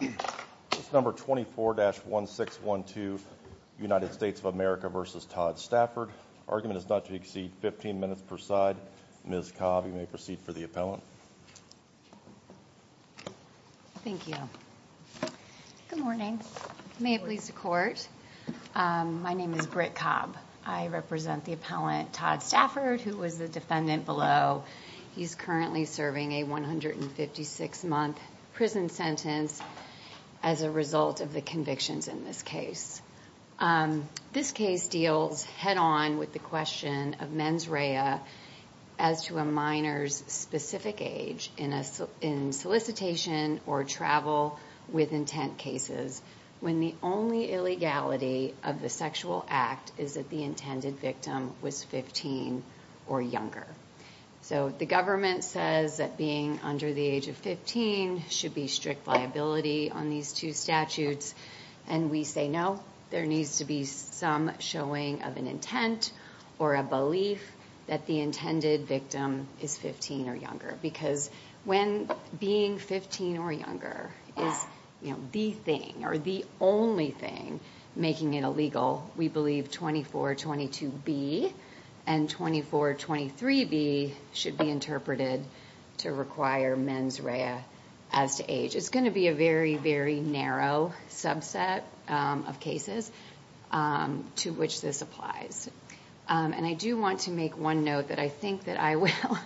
This is number 24-1612, United States of America v. Todd Stafford. Argument is not to exceed 15 minutes per side. Ms. Cobb, you may proceed for the appellant. Thank you. Good morning. May it please the Court. My name is Britt Cobb. I represent the appellant Todd Stafford, who was the defendant below. He's currently serving a 156-month prison sentence as a result of the convictions in this case. This case deals head-on with the question of mens rea as to a minor's specific age in solicitation or travel with intent cases when the only illegality of the sexual act is that the intended victim was 15 or younger. So the government says that being under the age of 15 should be strict liability on these two statutes, and we say no, there needs to be some showing of an intent or a belief that the intended victim is 15 or younger because when being 15 or younger is the thing or the only thing making it illegal, we believe 2422B and 2423B should be interpreted to require mens rea as to age. It's going to be a very, very narrow subset of cases to which this applies. And I do want to make one note that I think that I will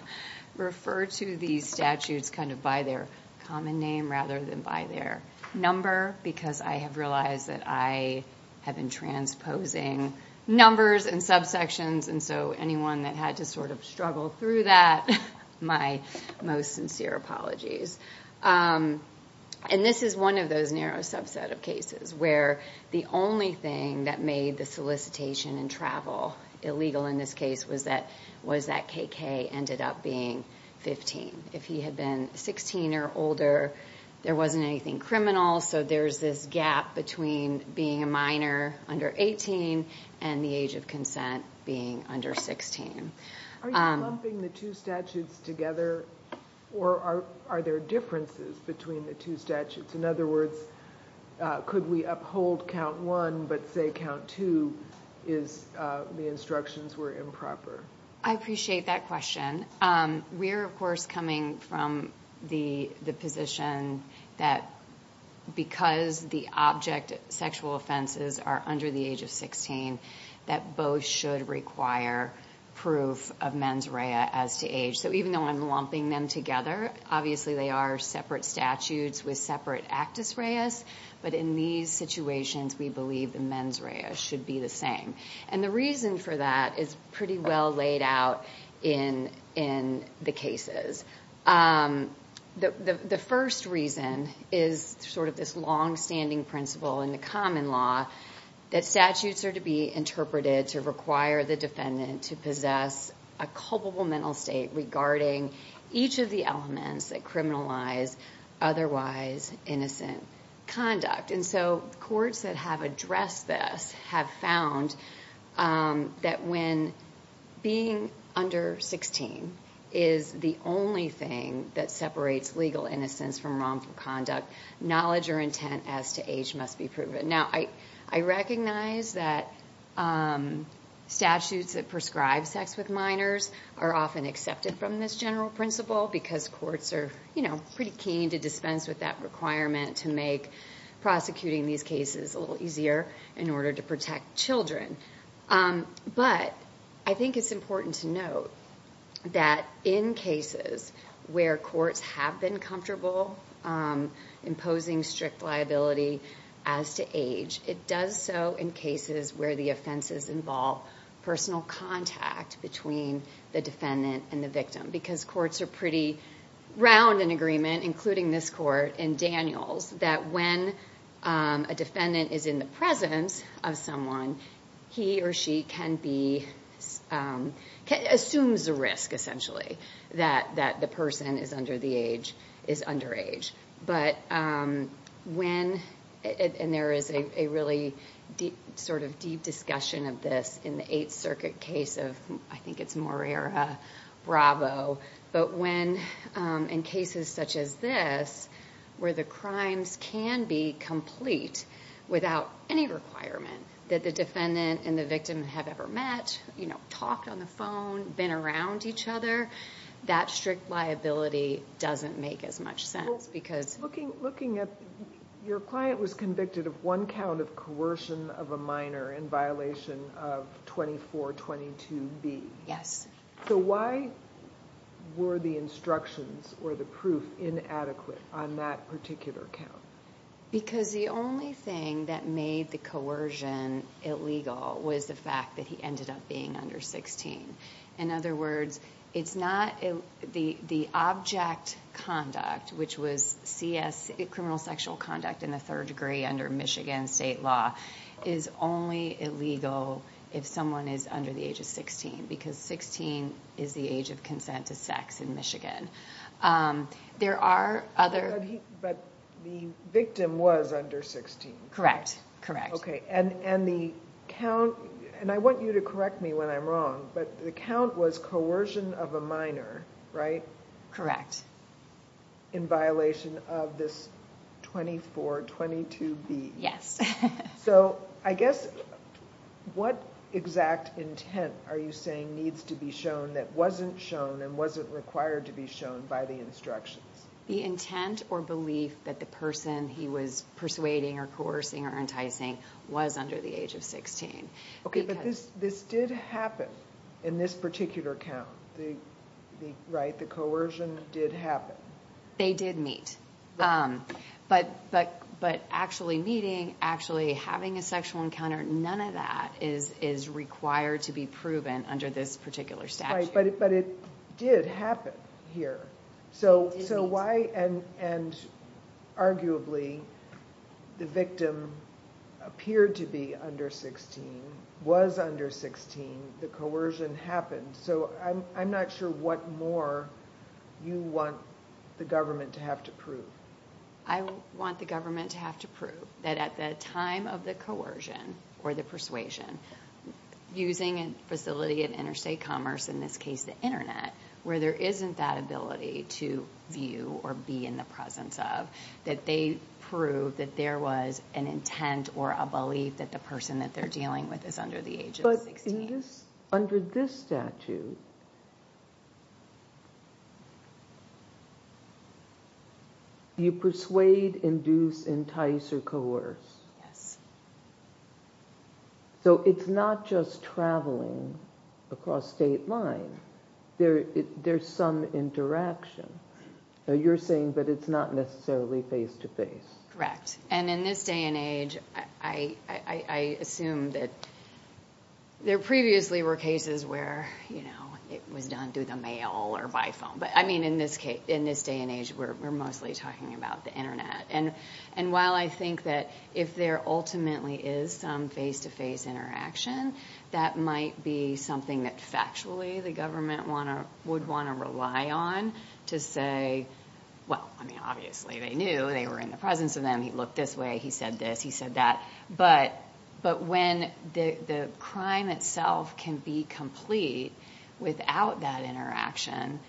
refer to these statutes kind of by their common name rather than by their number because I have realized that I have been transposing numbers and subsections, and so anyone that had to sort of struggle through that, my most sincere apologies. And this is one of those narrow subset of cases where the only thing that made the solicitation and travel illegal in this case was that KK ended up being 15. If he had been 16 or older, there wasn't anything criminal, so there's this gap between being a minor under 18 and the age of consent being under 16. Are you lumping the two statutes together, or are there differences between the two statutes? In other words, could we uphold count one but say count two is the instructions were improper? I appreciate that question. We are, of course, coming from the position that because the object sexual offenses are under the age of 16, that both should require proof of mens rea as to age. So even though I'm lumping them together, obviously they are separate statutes with separate actus reas, but in these situations we believe the mens rea should be the same. And the reason for that is pretty well laid out in the cases. The first reason is sort of this longstanding principle in the common law that statutes are to be interpreted to require the defendant to possess a culpable mental state regarding each of the elements that criminalize otherwise innocent conduct. And so courts that have addressed this have found that when being under 16 is the only thing that separates legal innocence from wrongful conduct, knowledge or intent as to age must be proven. Now, I recognize that statutes that prescribe sex with minors are often accepted from this general principle because courts are pretty keen to dispense with that requirement to make prosecuting these cases a little easier in order to protect children. But I think it's important to note that in cases where courts have been comfortable imposing strict liability as to age, it does so in cases where the offenses involve personal contact between the defendant and the victim because courts are pretty round in agreement, including this court and Daniel's, that when a defendant is in the presence of someone, he or she can be, assumes the risk essentially that the person is under the age, is under age. But when, and there is a really sort of deep discussion of this in the Eighth Circuit case of, I think it's Moreira-Bravo, but when in cases such as this where the crimes can be complete without any requirement that the defendant and the victim have ever met, you know, talked on the phone, been around each other, that strict liability doesn't make as much sense because... Your client was convicted of one count of coercion of a minor in violation of 2422B. So why were the instructions or the proof inadequate on that particular count? Because the only thing that made the coercion illegal was the fact that he ended up being under 16. In other words, it's not, the object conduct, which was CS, criminal sexual conduct in the third degree under Michigan state law, is only illegal if someone is under the age of 16 because 16 is the age of consent to sex in Michigan. There are other... But the victim was under 16. Correct, correct. Okay, and the count, and I want you to correct me when I'm wrong, but the count was coercion of a minor, right? Correct. In violation of this 2422B. Yes. So I guess, what exact intent are you saying needs to be shown that wasn't shown and wasn't required to be shown by the instructions? The intent or belief that the person he was persuading or coercing or enticing was under the age of 16. Okay, but this did happen in this particular count, right? The coercion did happen. They did meet. But actually meeting, actually having a sexual encounter, none of that is required to be proven under this particular statute. Right, but it did happen here. So why, and arguably, the victim appeared to be under 16, was under 16, the coercion happened. So I'm not sure what more you want the government to have to prove. I want the government to have to prove that at the time of the coercion or the persuasion, using a facility of interstate commerce, in this case the internet, where there isn't that ability to view or be in the presence of, that they prove that there was an intent or a belief that the person that they're dealing with is under the age of 16. But in this, under this statute, you persuade, induce, entice, or coerce. Yes. So it's not just traveling across state lines. There's some interaction. You're saying that it's not necessarily face-to-face. Correct. And in this day and age, I assume that there previously were cases where, you know, it was done through the mail or by phone. But I mean, in this day and age, we're mostly talking about the internet. And while I think that if there ultimately is some face-to-face interaction, that might be something that factually the government would want to rely on to say, well, I mean, obviously they knew. They were in the presence of them. He looked this way. He said this. He said that. But when the crime itself can be complete without that interaction,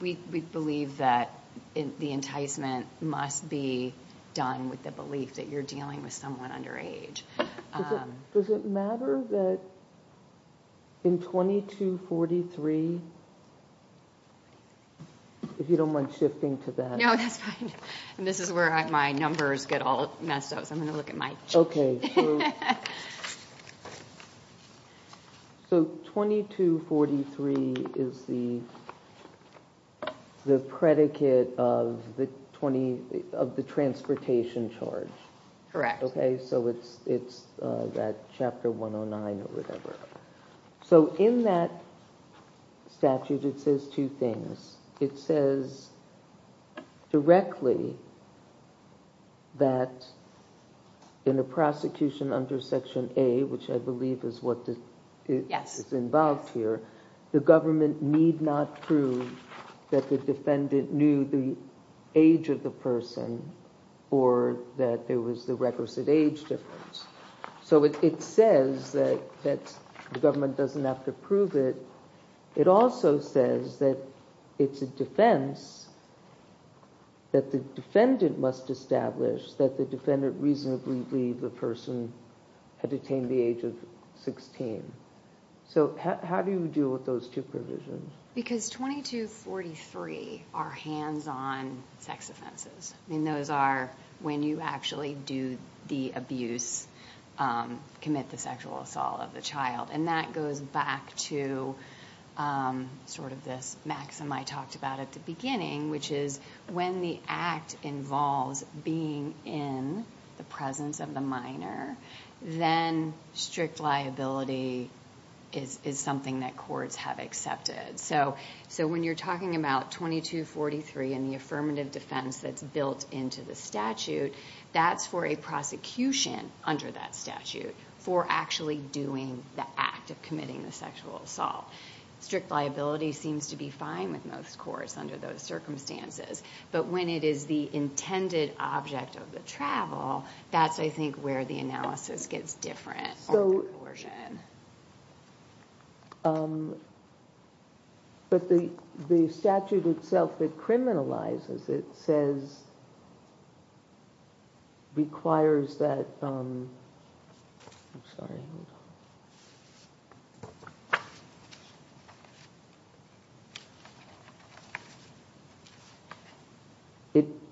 we believe that the enticement must be done with the belief that you're dealing with someone under age. Does it matter that in 2243, if you don't mind shifting to that? No, that's fine. This is where my numbers get all messed up, so I'm going to look at my chart. So 2243 is the predicate of the transportation charge. Correct. Okay, so it's that Chapter 109 or whatever. So in that statute, it says two things. It says directly that in a prosecution under Section A, which I believe is what is involved here, the government need not prove that the defendant knew the age of the person or that there was the requisite age difference. So it says that the government doesn't have to prove it. It also says that it's a defense that the defendant must establish that the defendant reasonably believed the person had attained the age of 16. So how do you deal with those two provisions? Because 2243 are hands-on sex offenses. I mean, those are when you actually do the abuse, commit the sexual assault of the child. And that goes back to sort of this maxim I talked about at the beginning, which is when the act involves being in the presence of the minor, then strict liability is something that courts have accepted. So when you're talking about 2243 and the affirmative defense that's built into the statute, that's for a prosecution under that statute for actually doing the act of committing the sexual assault. Strict liability seems to be fine with most courts under those circumstances. But when it is the intended object of the travel, that's, I think, where the analysis gets different. So. But the the statute itself that criminalizes it says. Requires that. I'm sorry.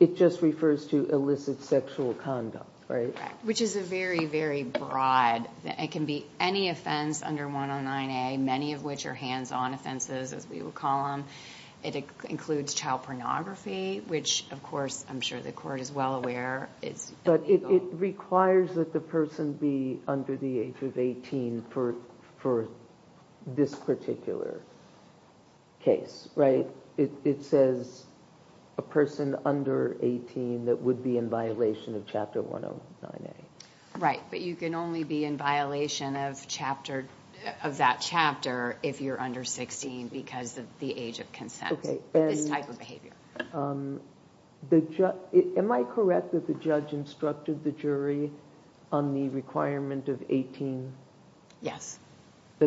It just refers to illicit sexual conduct, right? Which is a very, very broad. It can be any offense under 109A, many of which are hands-on offenses, as we will call them. It includes child pornography, which, of course, I'm sure the court is well aware. But it requires that the person be under the age of 18 for for this particular case. Right. It says a person under 18 that would be in violation of Chapter 109A. Right. But you can only be in violation of chapter of that chapter if you're under 16 because of the age of consent. This type of behavior. Am I correct that the judge instructed the jury on the requirement of 18? Yes. I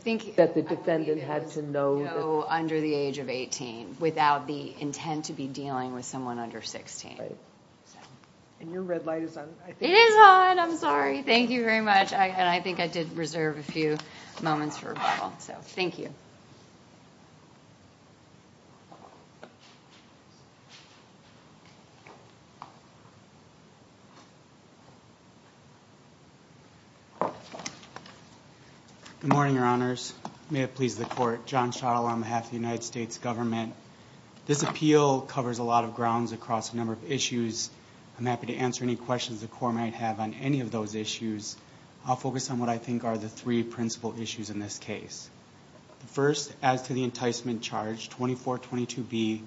think that the defendant had to know under the age of 18 without the intent to be dealing with someone under 16. And your red light is on. It is on. I'm sorry. Thank you very much. And I think I did reserve a few moments for rebuttal. So, thank you. Good morning, your honors. May it please the court. John Shaw on behalf of the United States government. This appeal covers a lot of grounds across a number of issues. I'm happy to answer any questions the court might have on any of those issues. I'll focus on what I think are the three principal issues in this case. First, as to the enticement charge, 2422B,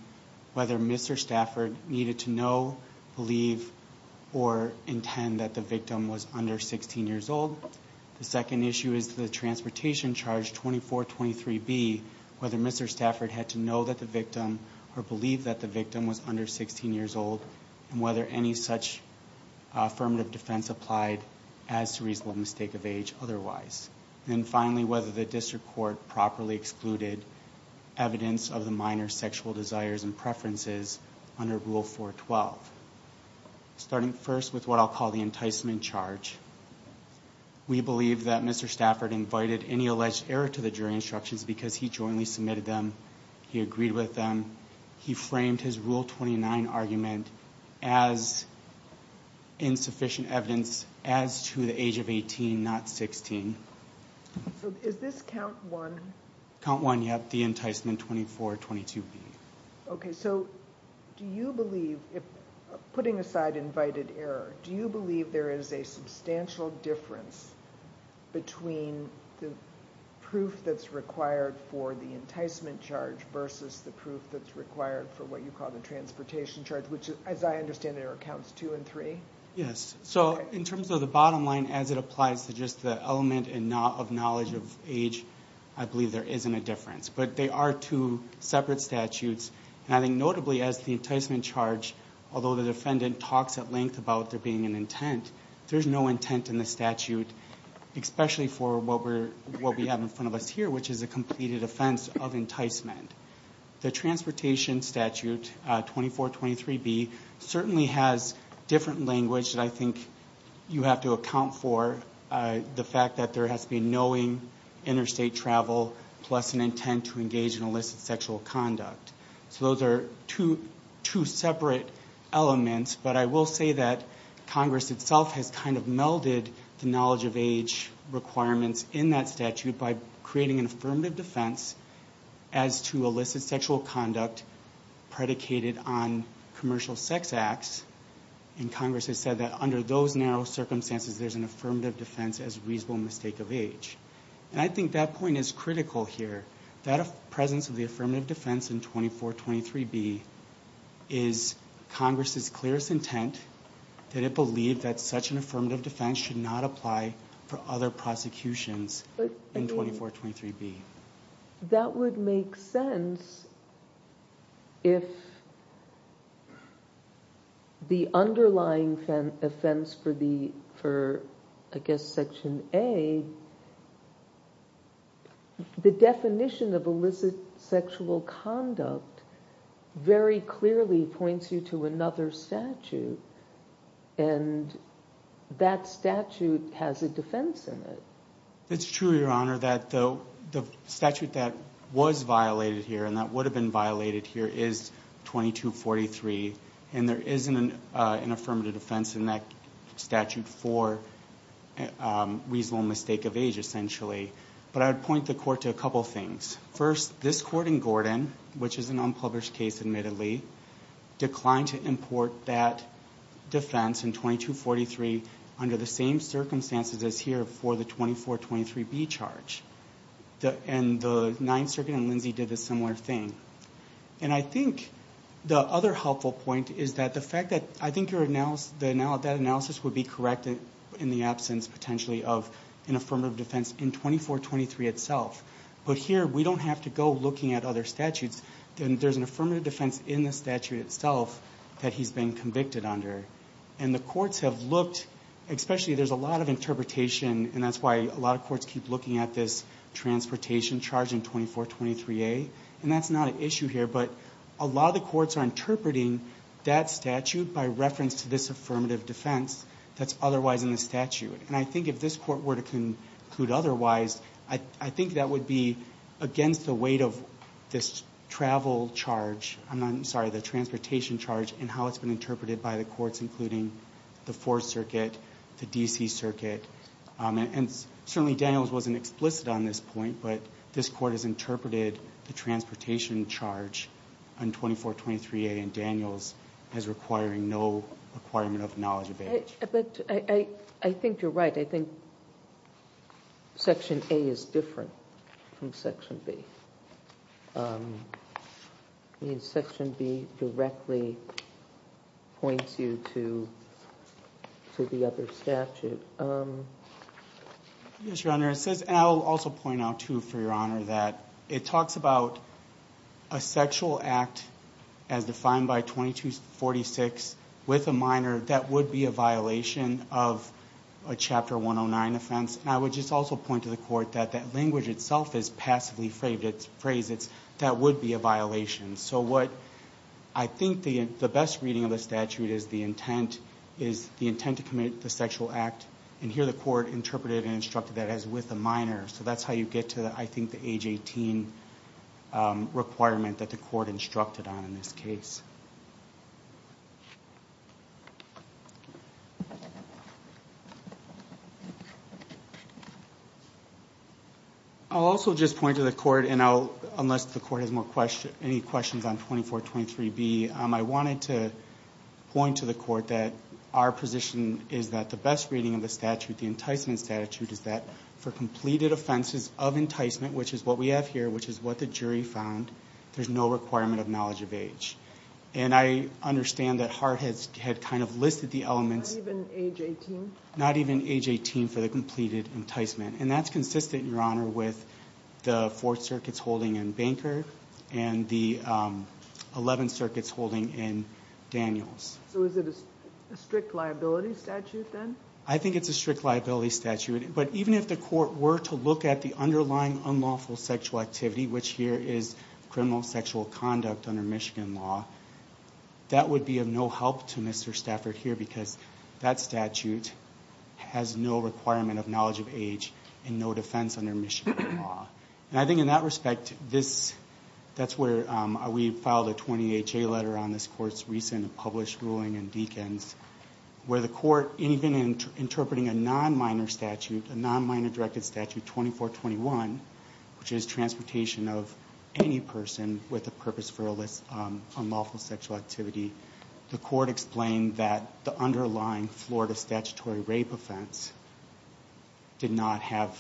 whether Mr. Stafford needed to know, believe, or intend that the victim was under 16 years old. The second issue is the transportation charge, 2423B, whether Mr. Stafford had to know that the victim or believe that the victim was under 16 years old. And whether any such affirmative defense applied as to reasonable mistake of age otherwise. And finally, whether the district court properly excluded evidence of the minor sexual desires and preferences under Rule 412. Starting first with what I'll call the enticement charge. We believe that Mr. Stafford invited any alleged error to the jury instructions because he jointly submitted them. He agreed with them. He framed his Rule 29 argument as insufficient evidence as to the age of 18, not 16. Is this count one? Count one, yes. The enticement, 2422B. Okay, so do you believe, putting aside invited error, do you believe there is a substantial difference between the proof that's required for the enticement charge versus the proof that's required for what you call the transportation charge? Which, as I understand it, are counts two and three? Yes. So in terms of the bottom line, as it applies to just the element of knowledge of age, I believe there isn't a difference. But they are two separate statutes. And I think notably, as the enticement charge, although the defendant talks at length about there being an intent, there's no intent in the statute, especially for what we have in front of us here, which is a completed offense of enticement. The transportation statute, 2423B, certainly has different language that I think you have to account for, the fact that there has to be knowing interstate travel plus an intent to engage in illicit sexual conduct. So those are two separate elements, but I will say that Congress itself has kind of melded the knowledge of age requirements in that statute by creating an affirmative defense as to illicit sexual conduct predicated on commercial sex acts. And Congress has said that under those narrow circumstances, there's an affirmative defense as reasonable mistake of age. And I think that point is critical here. That presence of the affirmative defense in 2423B is Congress's clearest intent, that it believed that such an affirmative defense should not apply for other prosecutions in 2423B. That would make sense if the underlying offense for, I guess, Section A, the definition of illicit sexual conduct very clearly points you to another statute. And that statute has a defense in it. It's true, Your Honor, that the statute that was violated here and that would have been violated here is 2243. And there isn't an affirmative defense in that statute for reasonable mistake of age, essentially. But I would point the Court to a couple things. First, this Court in Gordon, which is an unpublished case, admittedly, declined to import that defense in 2243 under the same circumstances as here for the 2423B charge. And the Ninth Circuit and Lindsay did a similar thing. And I think the other helpful point is that the fact that I think that analysis would be correct in the absence, potentially, of an affirmative defense in 2423 itself. But here, we don't have to go looking at other statutes. There's an affirmative defense in the statute itself that he's been convicted under. And the courts have looked, especially there's a lot of interpretation, and that's why a lot of courts keep looking at this transportation charge in 2423A. And that's not an issue here, but a lot of the courts are interpreting that statute by reference to this affirmative defense that's otherwise in the statute. And I think if this Court were to conclude otherwise, I think that would be against the weight of this travel charge. I'm sorry, the transportation charge and how it's been interpreted by the courts, including the Fourth Circuit, the D.C. Circuit. And certainly Daniels wasn't explicit on this point, but this Court has interpreted the transportation charge in 2423A in Daniels as requiring no requirement of knowledge of age. But I think you're right. I think Section A is different from Section B. Section B directly points you to the other statute. Yes, Your Honor. It says, and I'll also point out, too, for Your Honor, that it talks about a sexual act as defined by 2246 with a minor that would be a violation of a Chapter 109 offense. And I would just also point to the Court that that language itself is passively phrased. That would be a violation. So what I think the best reading of the statute is the intent to commit the sexual act, and here the Court interpreted and instructed that as with a minor. So that's how you get to, I think, the age 18 requirement that the Court instructed on in this case. I'll also just point to the Court, and unless the Court has any questions on 2423B, I wanted to point to the Court that our position is that the best reading of the statute, the enticement statute, is that for completed offenses of enticement, which is what we have here, which is what the jury found, there's no requirement of knowledge of age. And I understand that Hart had kind of listed the elements. Not even age 18? Not even age 18 for the completed enticement. And that's consistent, Your Honor, with the Fourth Circuit's holding in Banker and the Eleventh Circuit's holding in Daniels. So is it a strict liability statute then? I think it's a strict liability statute. But even if the Court were to look at the underlying unlawful sexual activity, which here is criminal sexual conduct under Michigan law, that would be of no help to Mr. Stafford here because that statute has no requirement of knowledge of age and no defense under Michigan law. And I think in that respect, that's where we filed a 28-J letter on this Court's recent published ruling in Deakins, where the Court, even in interpreting a non-minor statute, a non-minor directed statute, 2421, which is transportation of any person with a purpose for illicit unlawful sexual activity, the Court explained that the underlying Florida statutory rape offense did not have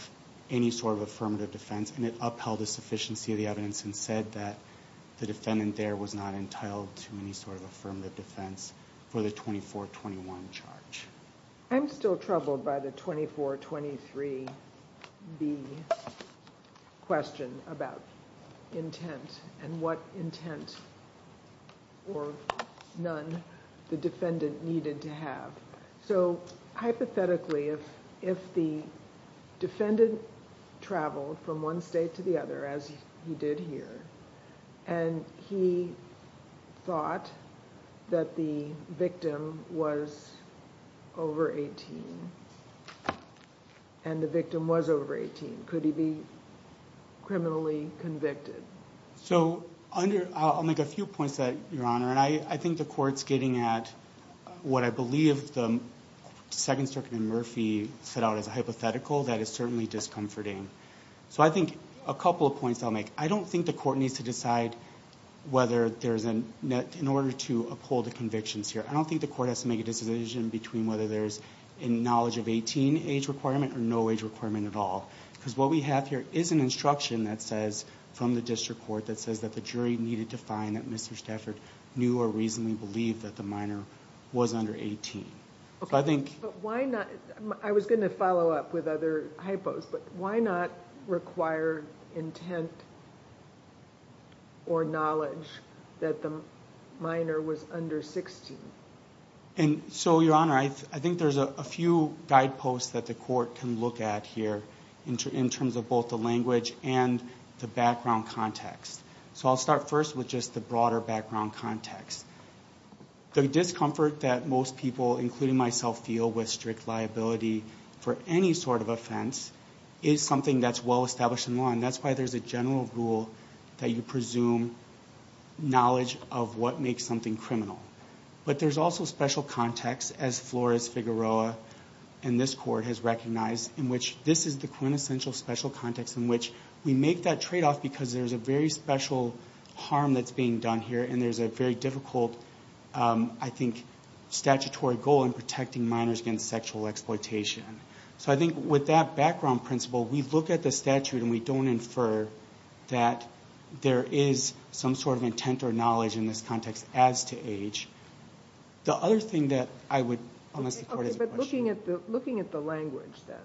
any sort of affirmative defense, and it upheld the sufficiency of the evidence and said that the defendant there was not entitled to any sort of affirmative defense for the 2421 charge. I'm still troubled by the 2423-B question about intent and what intent or none the defendant needed to have. So hypothetically, if the defendant traveled from one state to the other, as he did here, and he thought that the victim was over 18, and the victim was over 18, could he be criminally convicted? So I'll make a few points to that, Your Honor. And I think the Court's getting at what I believe the Second Circuit in Murphy set out as a hypothetical that is certainly discomforting. So I think a couple of points I'll make. I don't think the Court needs to decide whether there's a net in order to uphold the convictions here. I don't think the Court has to make a decision between whether there's a knowledge of 18 age requirement or no age requirement at all, because what we have here is an instruction that says, from the district court, that says that the jury needed to find that Mr. Stafford knew or reasonably believed that the minor was under 18. I was going to follow up with other hypos, but why not require intent or knowledge that the minor was under 16? So, Your Honor, I think there's a few guideposts that the Court can look at here in terms of both the language and the background context. So I'll start first with just the broader background context. The discomfort that most people, including myself, feel with strict liability for any sort of offense is something that's well established in law, and that's why there's a general rule that you presume knowledge of what makes something criminal. But there's also special context, as Flores Figueroa and this Court has recognized, in which this is the quintessential special context in which we make that tradeoff because there's a very special harm that's being done here, and there's a very difficult, I think, statutory goal in protecting minors against sexual exploitation. So I think with that background principle, we look at the statute and we don't infer that there is some sort of intent or knowledge in this context as to age. The other thing that I would, unless the Court has a question. Looking at the language, then,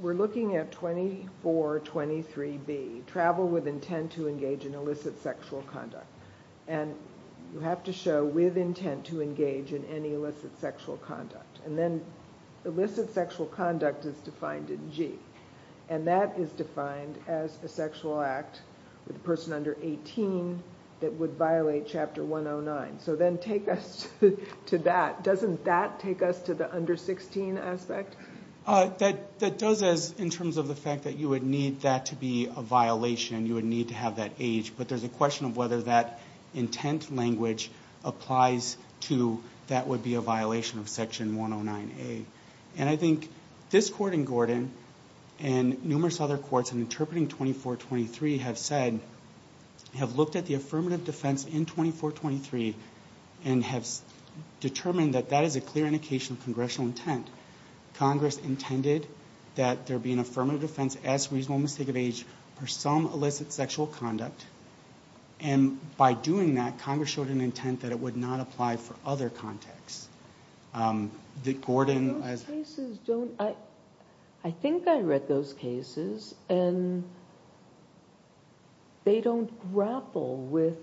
we're looking at 2423B, travel with intent to engage in illicit sexual conduct. And you have to show with intent to engage in any illicit sexual conduct. And then illicit sexual conduct is defined in G, and that is defined as a sexual act with a person under 18 that would violate Chapter 109. So then take us to that. Doesn't that take us to the under 16 aspect? That does in terms of the fact that you would need that to be a violation. You would need to have that age. But there's a question of whether that intent language applies to that would be a violation of Section 109A. And I think this Court in Gordon and numerous other courts in interpreting 2423 have said, have looked at the affirmative defense in 2423 and have determined that that is a clear indication of congressional intent. Congress intended that there be an affirmative defense as reasonable mistake of age for some illicit sexual conduct. And by doing that, Congress showed an intent that it would not apply for other contexts. I think I read those cases, and they don't grapple with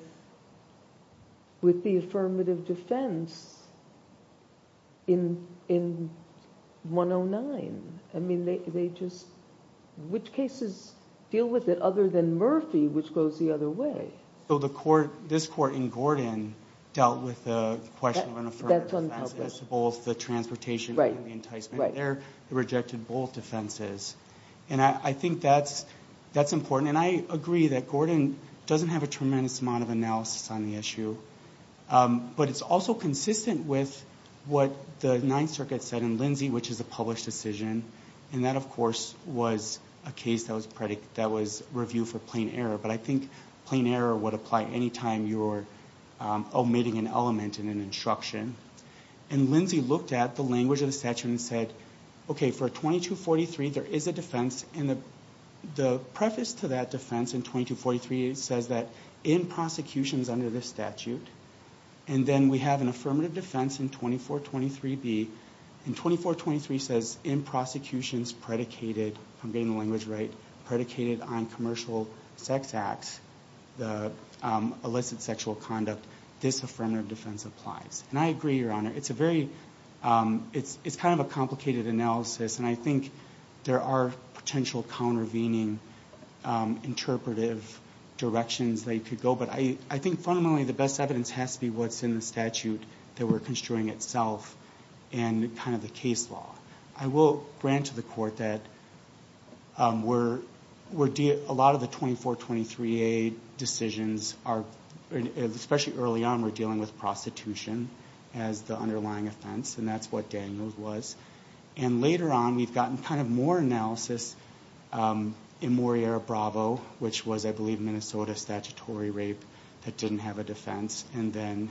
the affirmative defense in 109. I mean, which cases deal with it other than Murphy, which goes the other way? So this Court in Gordon dealt with the question of an affirmative defense as to both the transportation and the enticement. They rejected both defenses. And I think that's important. And I agree that Gordon doesn't have a tremendous amount of analysis on the issue. But it's also consistent with what the Ninth Circuit said in Lindsay, which is a published decision. And that, of course, was a case that was reviewed for plain error. But I think plain error would apply any time you're omitting an element in an instruction. And Lindsay looked at the language of the statute and said, okay, for 2243, there is a defense. And the preface to that defense in 2243 says that in prosecutions under this statute. And then we have an affirmative defense in 2423B. And 2423 says in prosecutions predicated, if I'm getting the language right, predicated on commercial sex acts, the illicit sexual conduct, this affirmative defense applies. And I agree, Your Honor. It's a very ñ it's kind of a complicated analysis. And I think there are potential countervening interpretive directions that you could go. But I think fundamentally the best evidence has to be what's in the statute that we're construing itself and kind of the case law. I will grant to the Court that we're ñ a lot of the 2423A decisions are ñ especially early on we're dealing with prostitution as the underlying offense. And that's what Daniels was. And later on we've gotten kind of more analysis in Moriera-Bravo, which was, I believe, Minnesota statutory rape that didn't have a defense. And then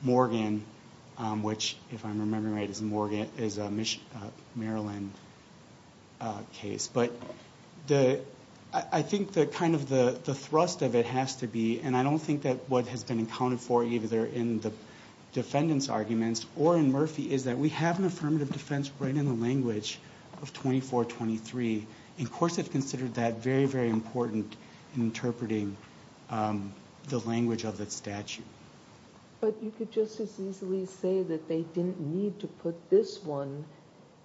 Morgan, which if I'm remembering right is a Maryland case. But I think that kind of the thrust of it has to be, and I don't think that what has been accounted for either in the defendant's arguments or in Murphy, is that we have an affirmative defense right in the language of 2423. And courts have considered that very, very important in interpreting the language of the statute. But you could just as easily say that they didn't need to put this one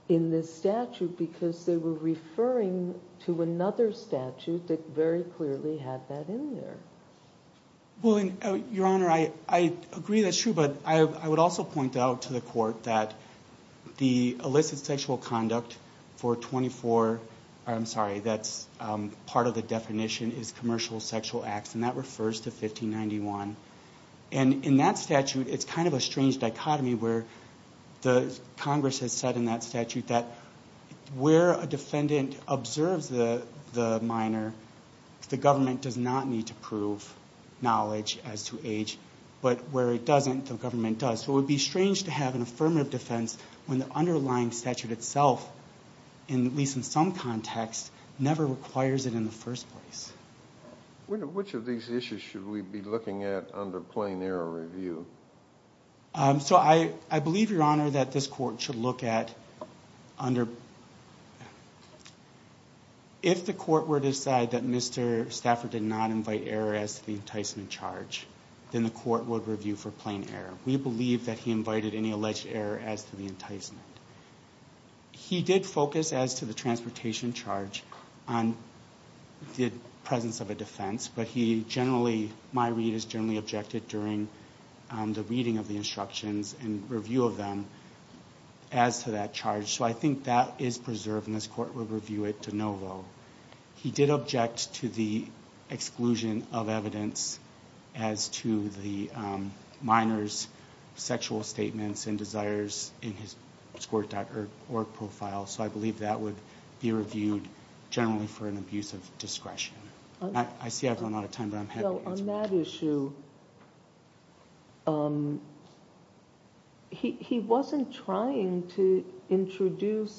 in this statute because they were referring to another statute that very clearly had that in there. Well, Your Honor, I agree that's true. But I would also point out to the Court that the illicit sexual conduct for 24 ñ I'm sorry, that's part of the definition is commercial sexual acts, and that refers to 1591. And in that statute it's kind of a strange dichotomy where the Congress has said in that statute that where a defendant observes the minor, the government does not need to prove knowledge as to age. But where it doesn't, the government does. So it would be strange to have an affirmative defense when the underlying statute itself, at least in some context, never requires it in the first place. Which of these issues should we be looking at under plain error review? So I believe, Your Honor, that this Court should look at under ñ if the Court were to decide that Mr. Stafford did not invite error as to the enticement charge, then the Court would review for plain error. We believe that he invited any alleged error as to the enticement. He did focus as to the transportation charge on the presence of a defense, but he generally ñ my read is generally objected during the reading of the instructions and review of them as to that charge. So I think that is preserved, and this Court would review it de novo. He did object to the exclusion of evidence as to the minor's sexual statements and desires in his score.org profile, so I believe that would be reviewed generally for an abuse of discretion. I see I've run out of time, but I'm happy to answer. Well, on that issue, he wasn't trying to introduce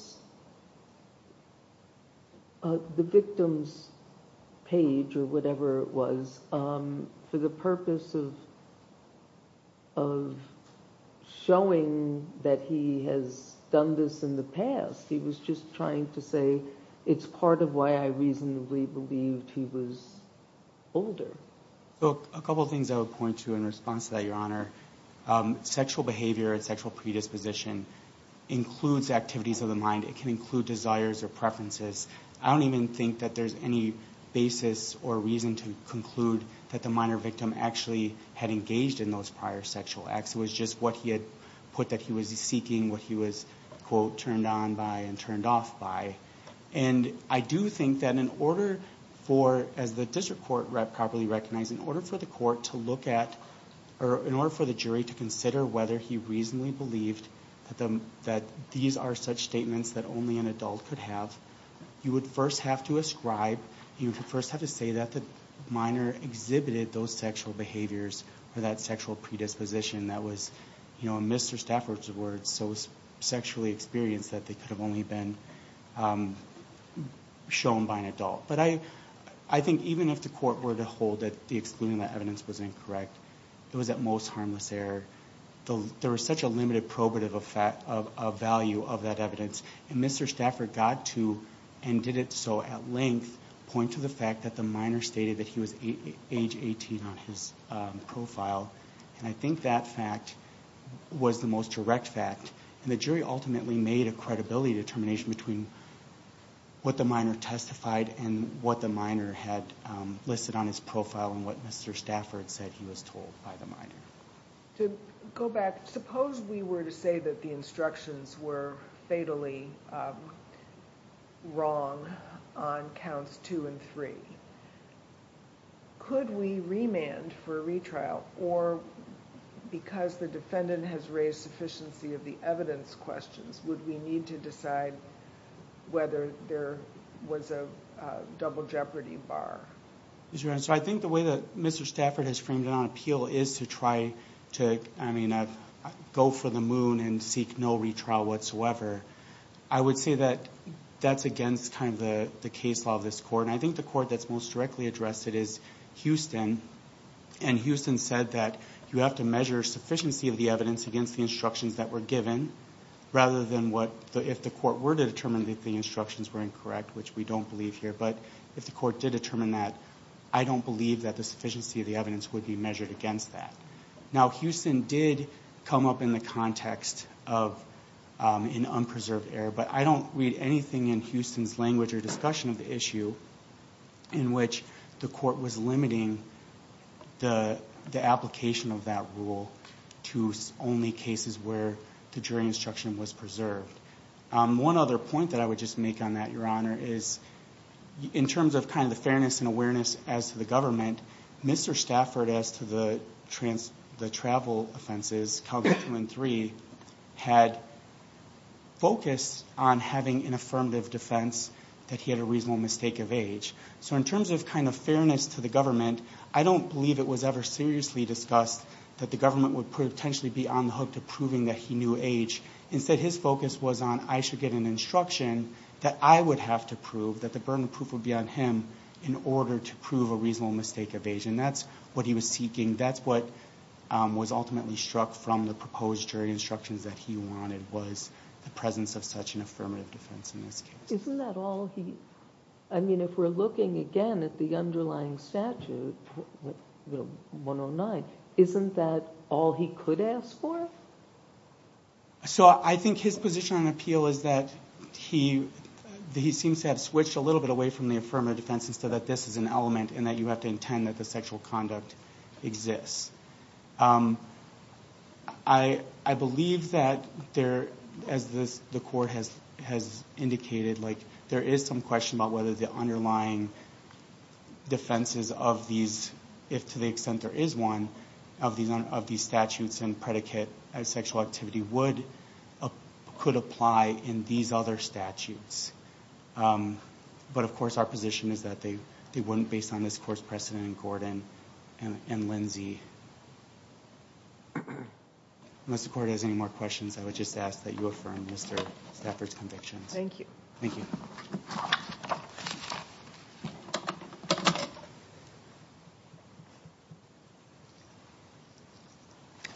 the victim's page or whatever it was for the purpose of showing that he has done this in the past. He was just trying to say it's part of why I reasonably believed he was older. A couple of things I would point to in response to that, Your Honor. Sexual behavior and sexual predisposition includes activities of the mind. It can include desires or preferences. I don't even think that there's any basis or reason to conclude that the minor victim actually had engaged in those prior sexual acts. It was just what he had put that he was seeking, what he was, quote, turned on by and turned off by. And I do think that in order for, as the district court properly recognized, in order for the court to look at or in order for the jury to consider whether he reasonably believed that these are such statements that only an adult could have, you would first have to ascribe, you would first have to say that the minor exhibited those sexual behaviors or that sexual predisposition that was, you know, in Mr. Stafford's words, so sexually experienced that they could have only been shown by an adult. But I think even if the court were to hold that excluding that evidence was incorrect, it was at most harmless error. There was such a limited probative value of that evidence. And Mr. Stafford got to and did it so at length, point to the fact that the minor stated that he was age 18 on his profile. And I think that fact was the most direct fact. And the jury ultimately made a credibility determination between what the minor testified and what the minor had listed on his profile and what Mr. Stafford said he was told by the minor. To go back, suppose we were to say that the instructions were fatally wrong on counts two and three. Could we remand for a retrial? Or because the defendant has raised sufficiency of the evidence questions, would we need to decide whether there was a double jeopardy bar? I think the way that Mr. Stafford has framed it on appeal is to try to go for the moon and seek no retrial whatsoever. I would say that that's against kind of the case law of this court. And I think the court that's most directly addressed it is Houston. And Houston said that you have to measure sufficiency of the evidence against the instructions that were given rather than if the court were to determine that the instructions were incorrect, which we don't believe here. But if the court did determine that, I don't believe that the sufficiency of the evidence would be measured against that. Now, Houston did come up in the context of an unpreserved error. But I don't read anything in Houston's language or discussion of the issue in which the court was limiting the application of that rule to only cases where the jury instruction was preserved. One other point that I would just make on that, Your Honor, is in terms of kind of the fairness and awareness as to the government, Mr. Stafford as to the travel offenses, Calvin II and III, had focused on having an affirmative defense that he had a reasonable mistake of age. So in terms of kind of fairness to the government, I don't believe it was ever seriously discussed that the government would potentially be on the hook to proving that he knew age. Instead, his focus was on I should get an instruction that I would have to prove, that the burden of proof would be on him in order to prove a reasonable mistake of age. And that's what he was seeking. That's what was ultimately struck from the proposed jury instructions that he wanted was the presence of such an affirmative defense in this case. Isn't that all he – I mean, if we're looking again at the underlying statute, 109, isn't that all he could ask for? So I think his position on appeal is that he seems to have switched a little bit away from the affirmative defense and said that this is an element and that you have to intend that the sexual conduct exists. I believe that there, as the court has indicated, there is some question about whether the underlying defenses of these, if to the extent there is one, of these statutes and predicate as sexual activity could apply in these other statutes. But, of course, our position is that they wouldn't based on this court's precedent in Gordon and Lindsey. Unless the court has any more questions, I would just ask that you affirm Mr. Stafford's convictions. Thank you. Thank you.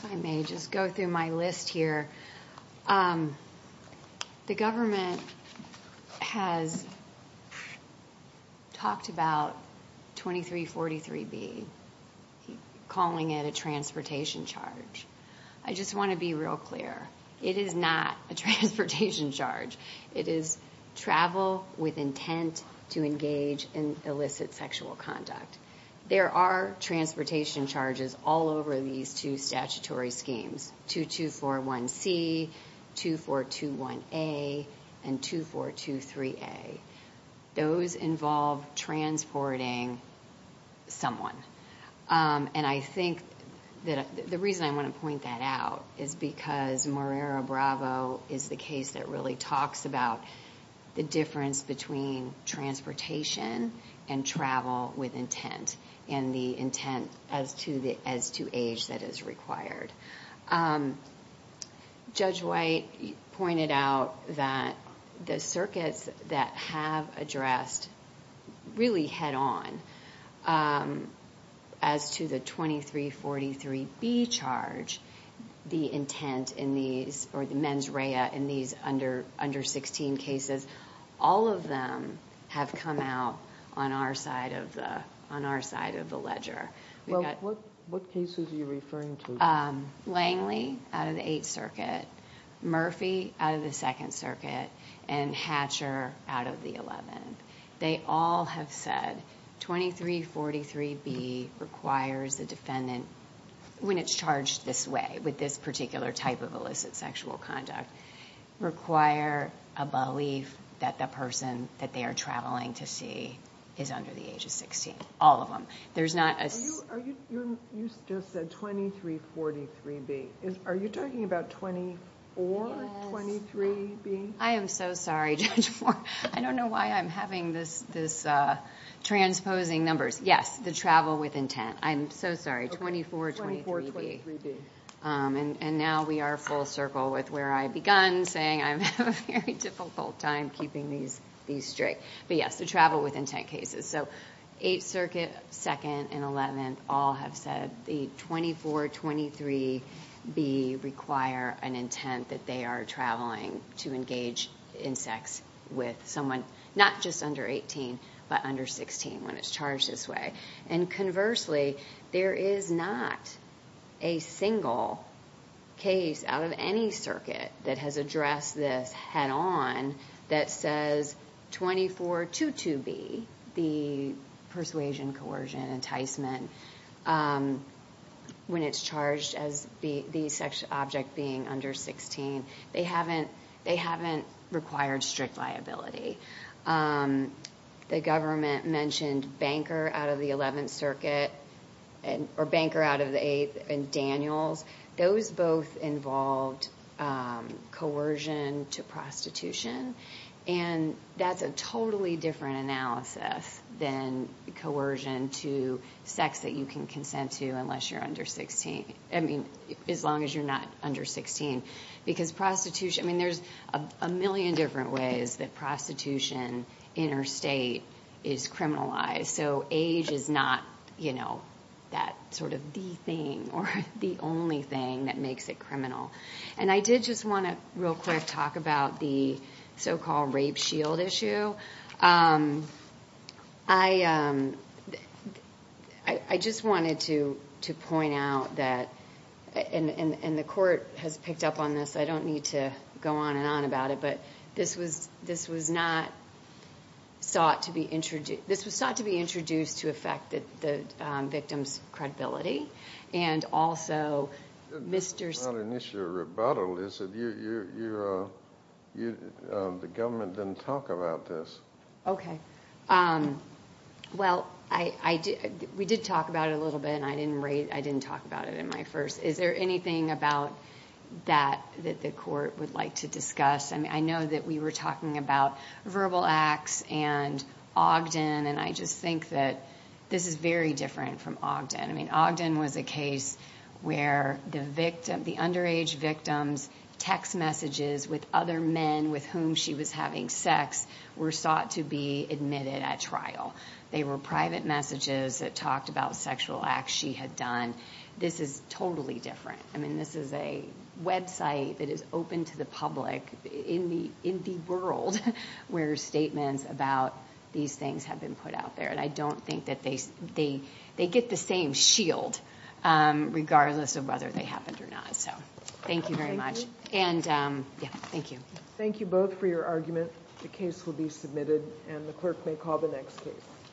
If I may just go through my list here. The government has talked about 2343B, calling it a transportation charge. I just want to be real clear. It is not a transportation charge. It is travel with intent to engage in illicit sexual conduct. There are transportation charges all over these two statutory schemes, 2241C, 2421A, and 2423A. Those involve transporting someone. And I think that the reason I want to point that out is because Marrero Bravo is the case that really talks about the difference between transportation and travel with intent and the intent as to age that is required. Judge White pointed out that the circuits that have addressed really head on as to the 2343B charge, the intent in these, or the mens rea in these under 16 cases, all of them have come out on our side of the ledger. What cases are you referring to? Langley out of the Eighth Circuit, Murphy out of the Second Circuit, and Hatcher out of the Eleventh. They all have said 2343B requires the defendant, when it's charged this way with this particular type of illicit sexual conduct, require a belief that the person that they are traveling to see is under the age of 16. All of them. You just said 2343B. Are you talking about 2423B? I am so sorry, Judge Moore. I don't know why I'm having this transposing numbers. Yes, the travel with intent. I'm so sorry, 2423B. And now we are full circle with where I begun, saying I'm having a very difficult time keeping these straight. But yes, the travel with intent cases. So Eighth Circuit, Second, and Eleventh all have said the 2423B require an intent that they are traveling to engage in sex with someone not just under 18, but under 16 when it's charged this way. And conversely, there is not a single case out of any circuit that has addressed this head on that says 2422B, the persuasion, coercion, enticement, when it's charged as the object being under 16, they haven't required strict liability. The government mentioned Banker out of the Eleventh Circuit, or Banker out of the Eighth, and Daniels. Those both involved coercion to prostitution, and that's a totally different analysis than coercion to sex that you can consent to unless you're under 16, I mean, as long as you're not under 16. I mean, there's a million different ways that prostitution interstate is criminalized. So age is not that sort of the thing or the only thing that makes it criminal. And I did just want to real quick talk about the so-called rape shield issue. So I just wanted to point out that, and the court has picked up on this, I don't need to go on and on about it, but this was not sought to be introduced to affect the victim's credibility. It's not an issue of rebuttal, is it? The government didn't talk about this. Okay. Well, we did talk about it a little bit, and I didn't talk about it in my first. Is there anything about that that the court would like to discuss? I mean, I know that we were talking about verbal acts and Ogden, and I just think that this is very different from Ogden. I mean, Ogden was a case where the underage victim's text messages with other men with whom she was having sex were sought to be admitted at trial. They were private messages that talked about sexual acts she had done. This is totally different. I mean, this is a website that is open to the public in the world where statements about these things have been put out there, and I don't think that they get the same shield regardless of whether they happened or not. So thank you very much. And, yeah, thank you. Thank you both for your argument. The case will be submitted, and the clerk may call the next case.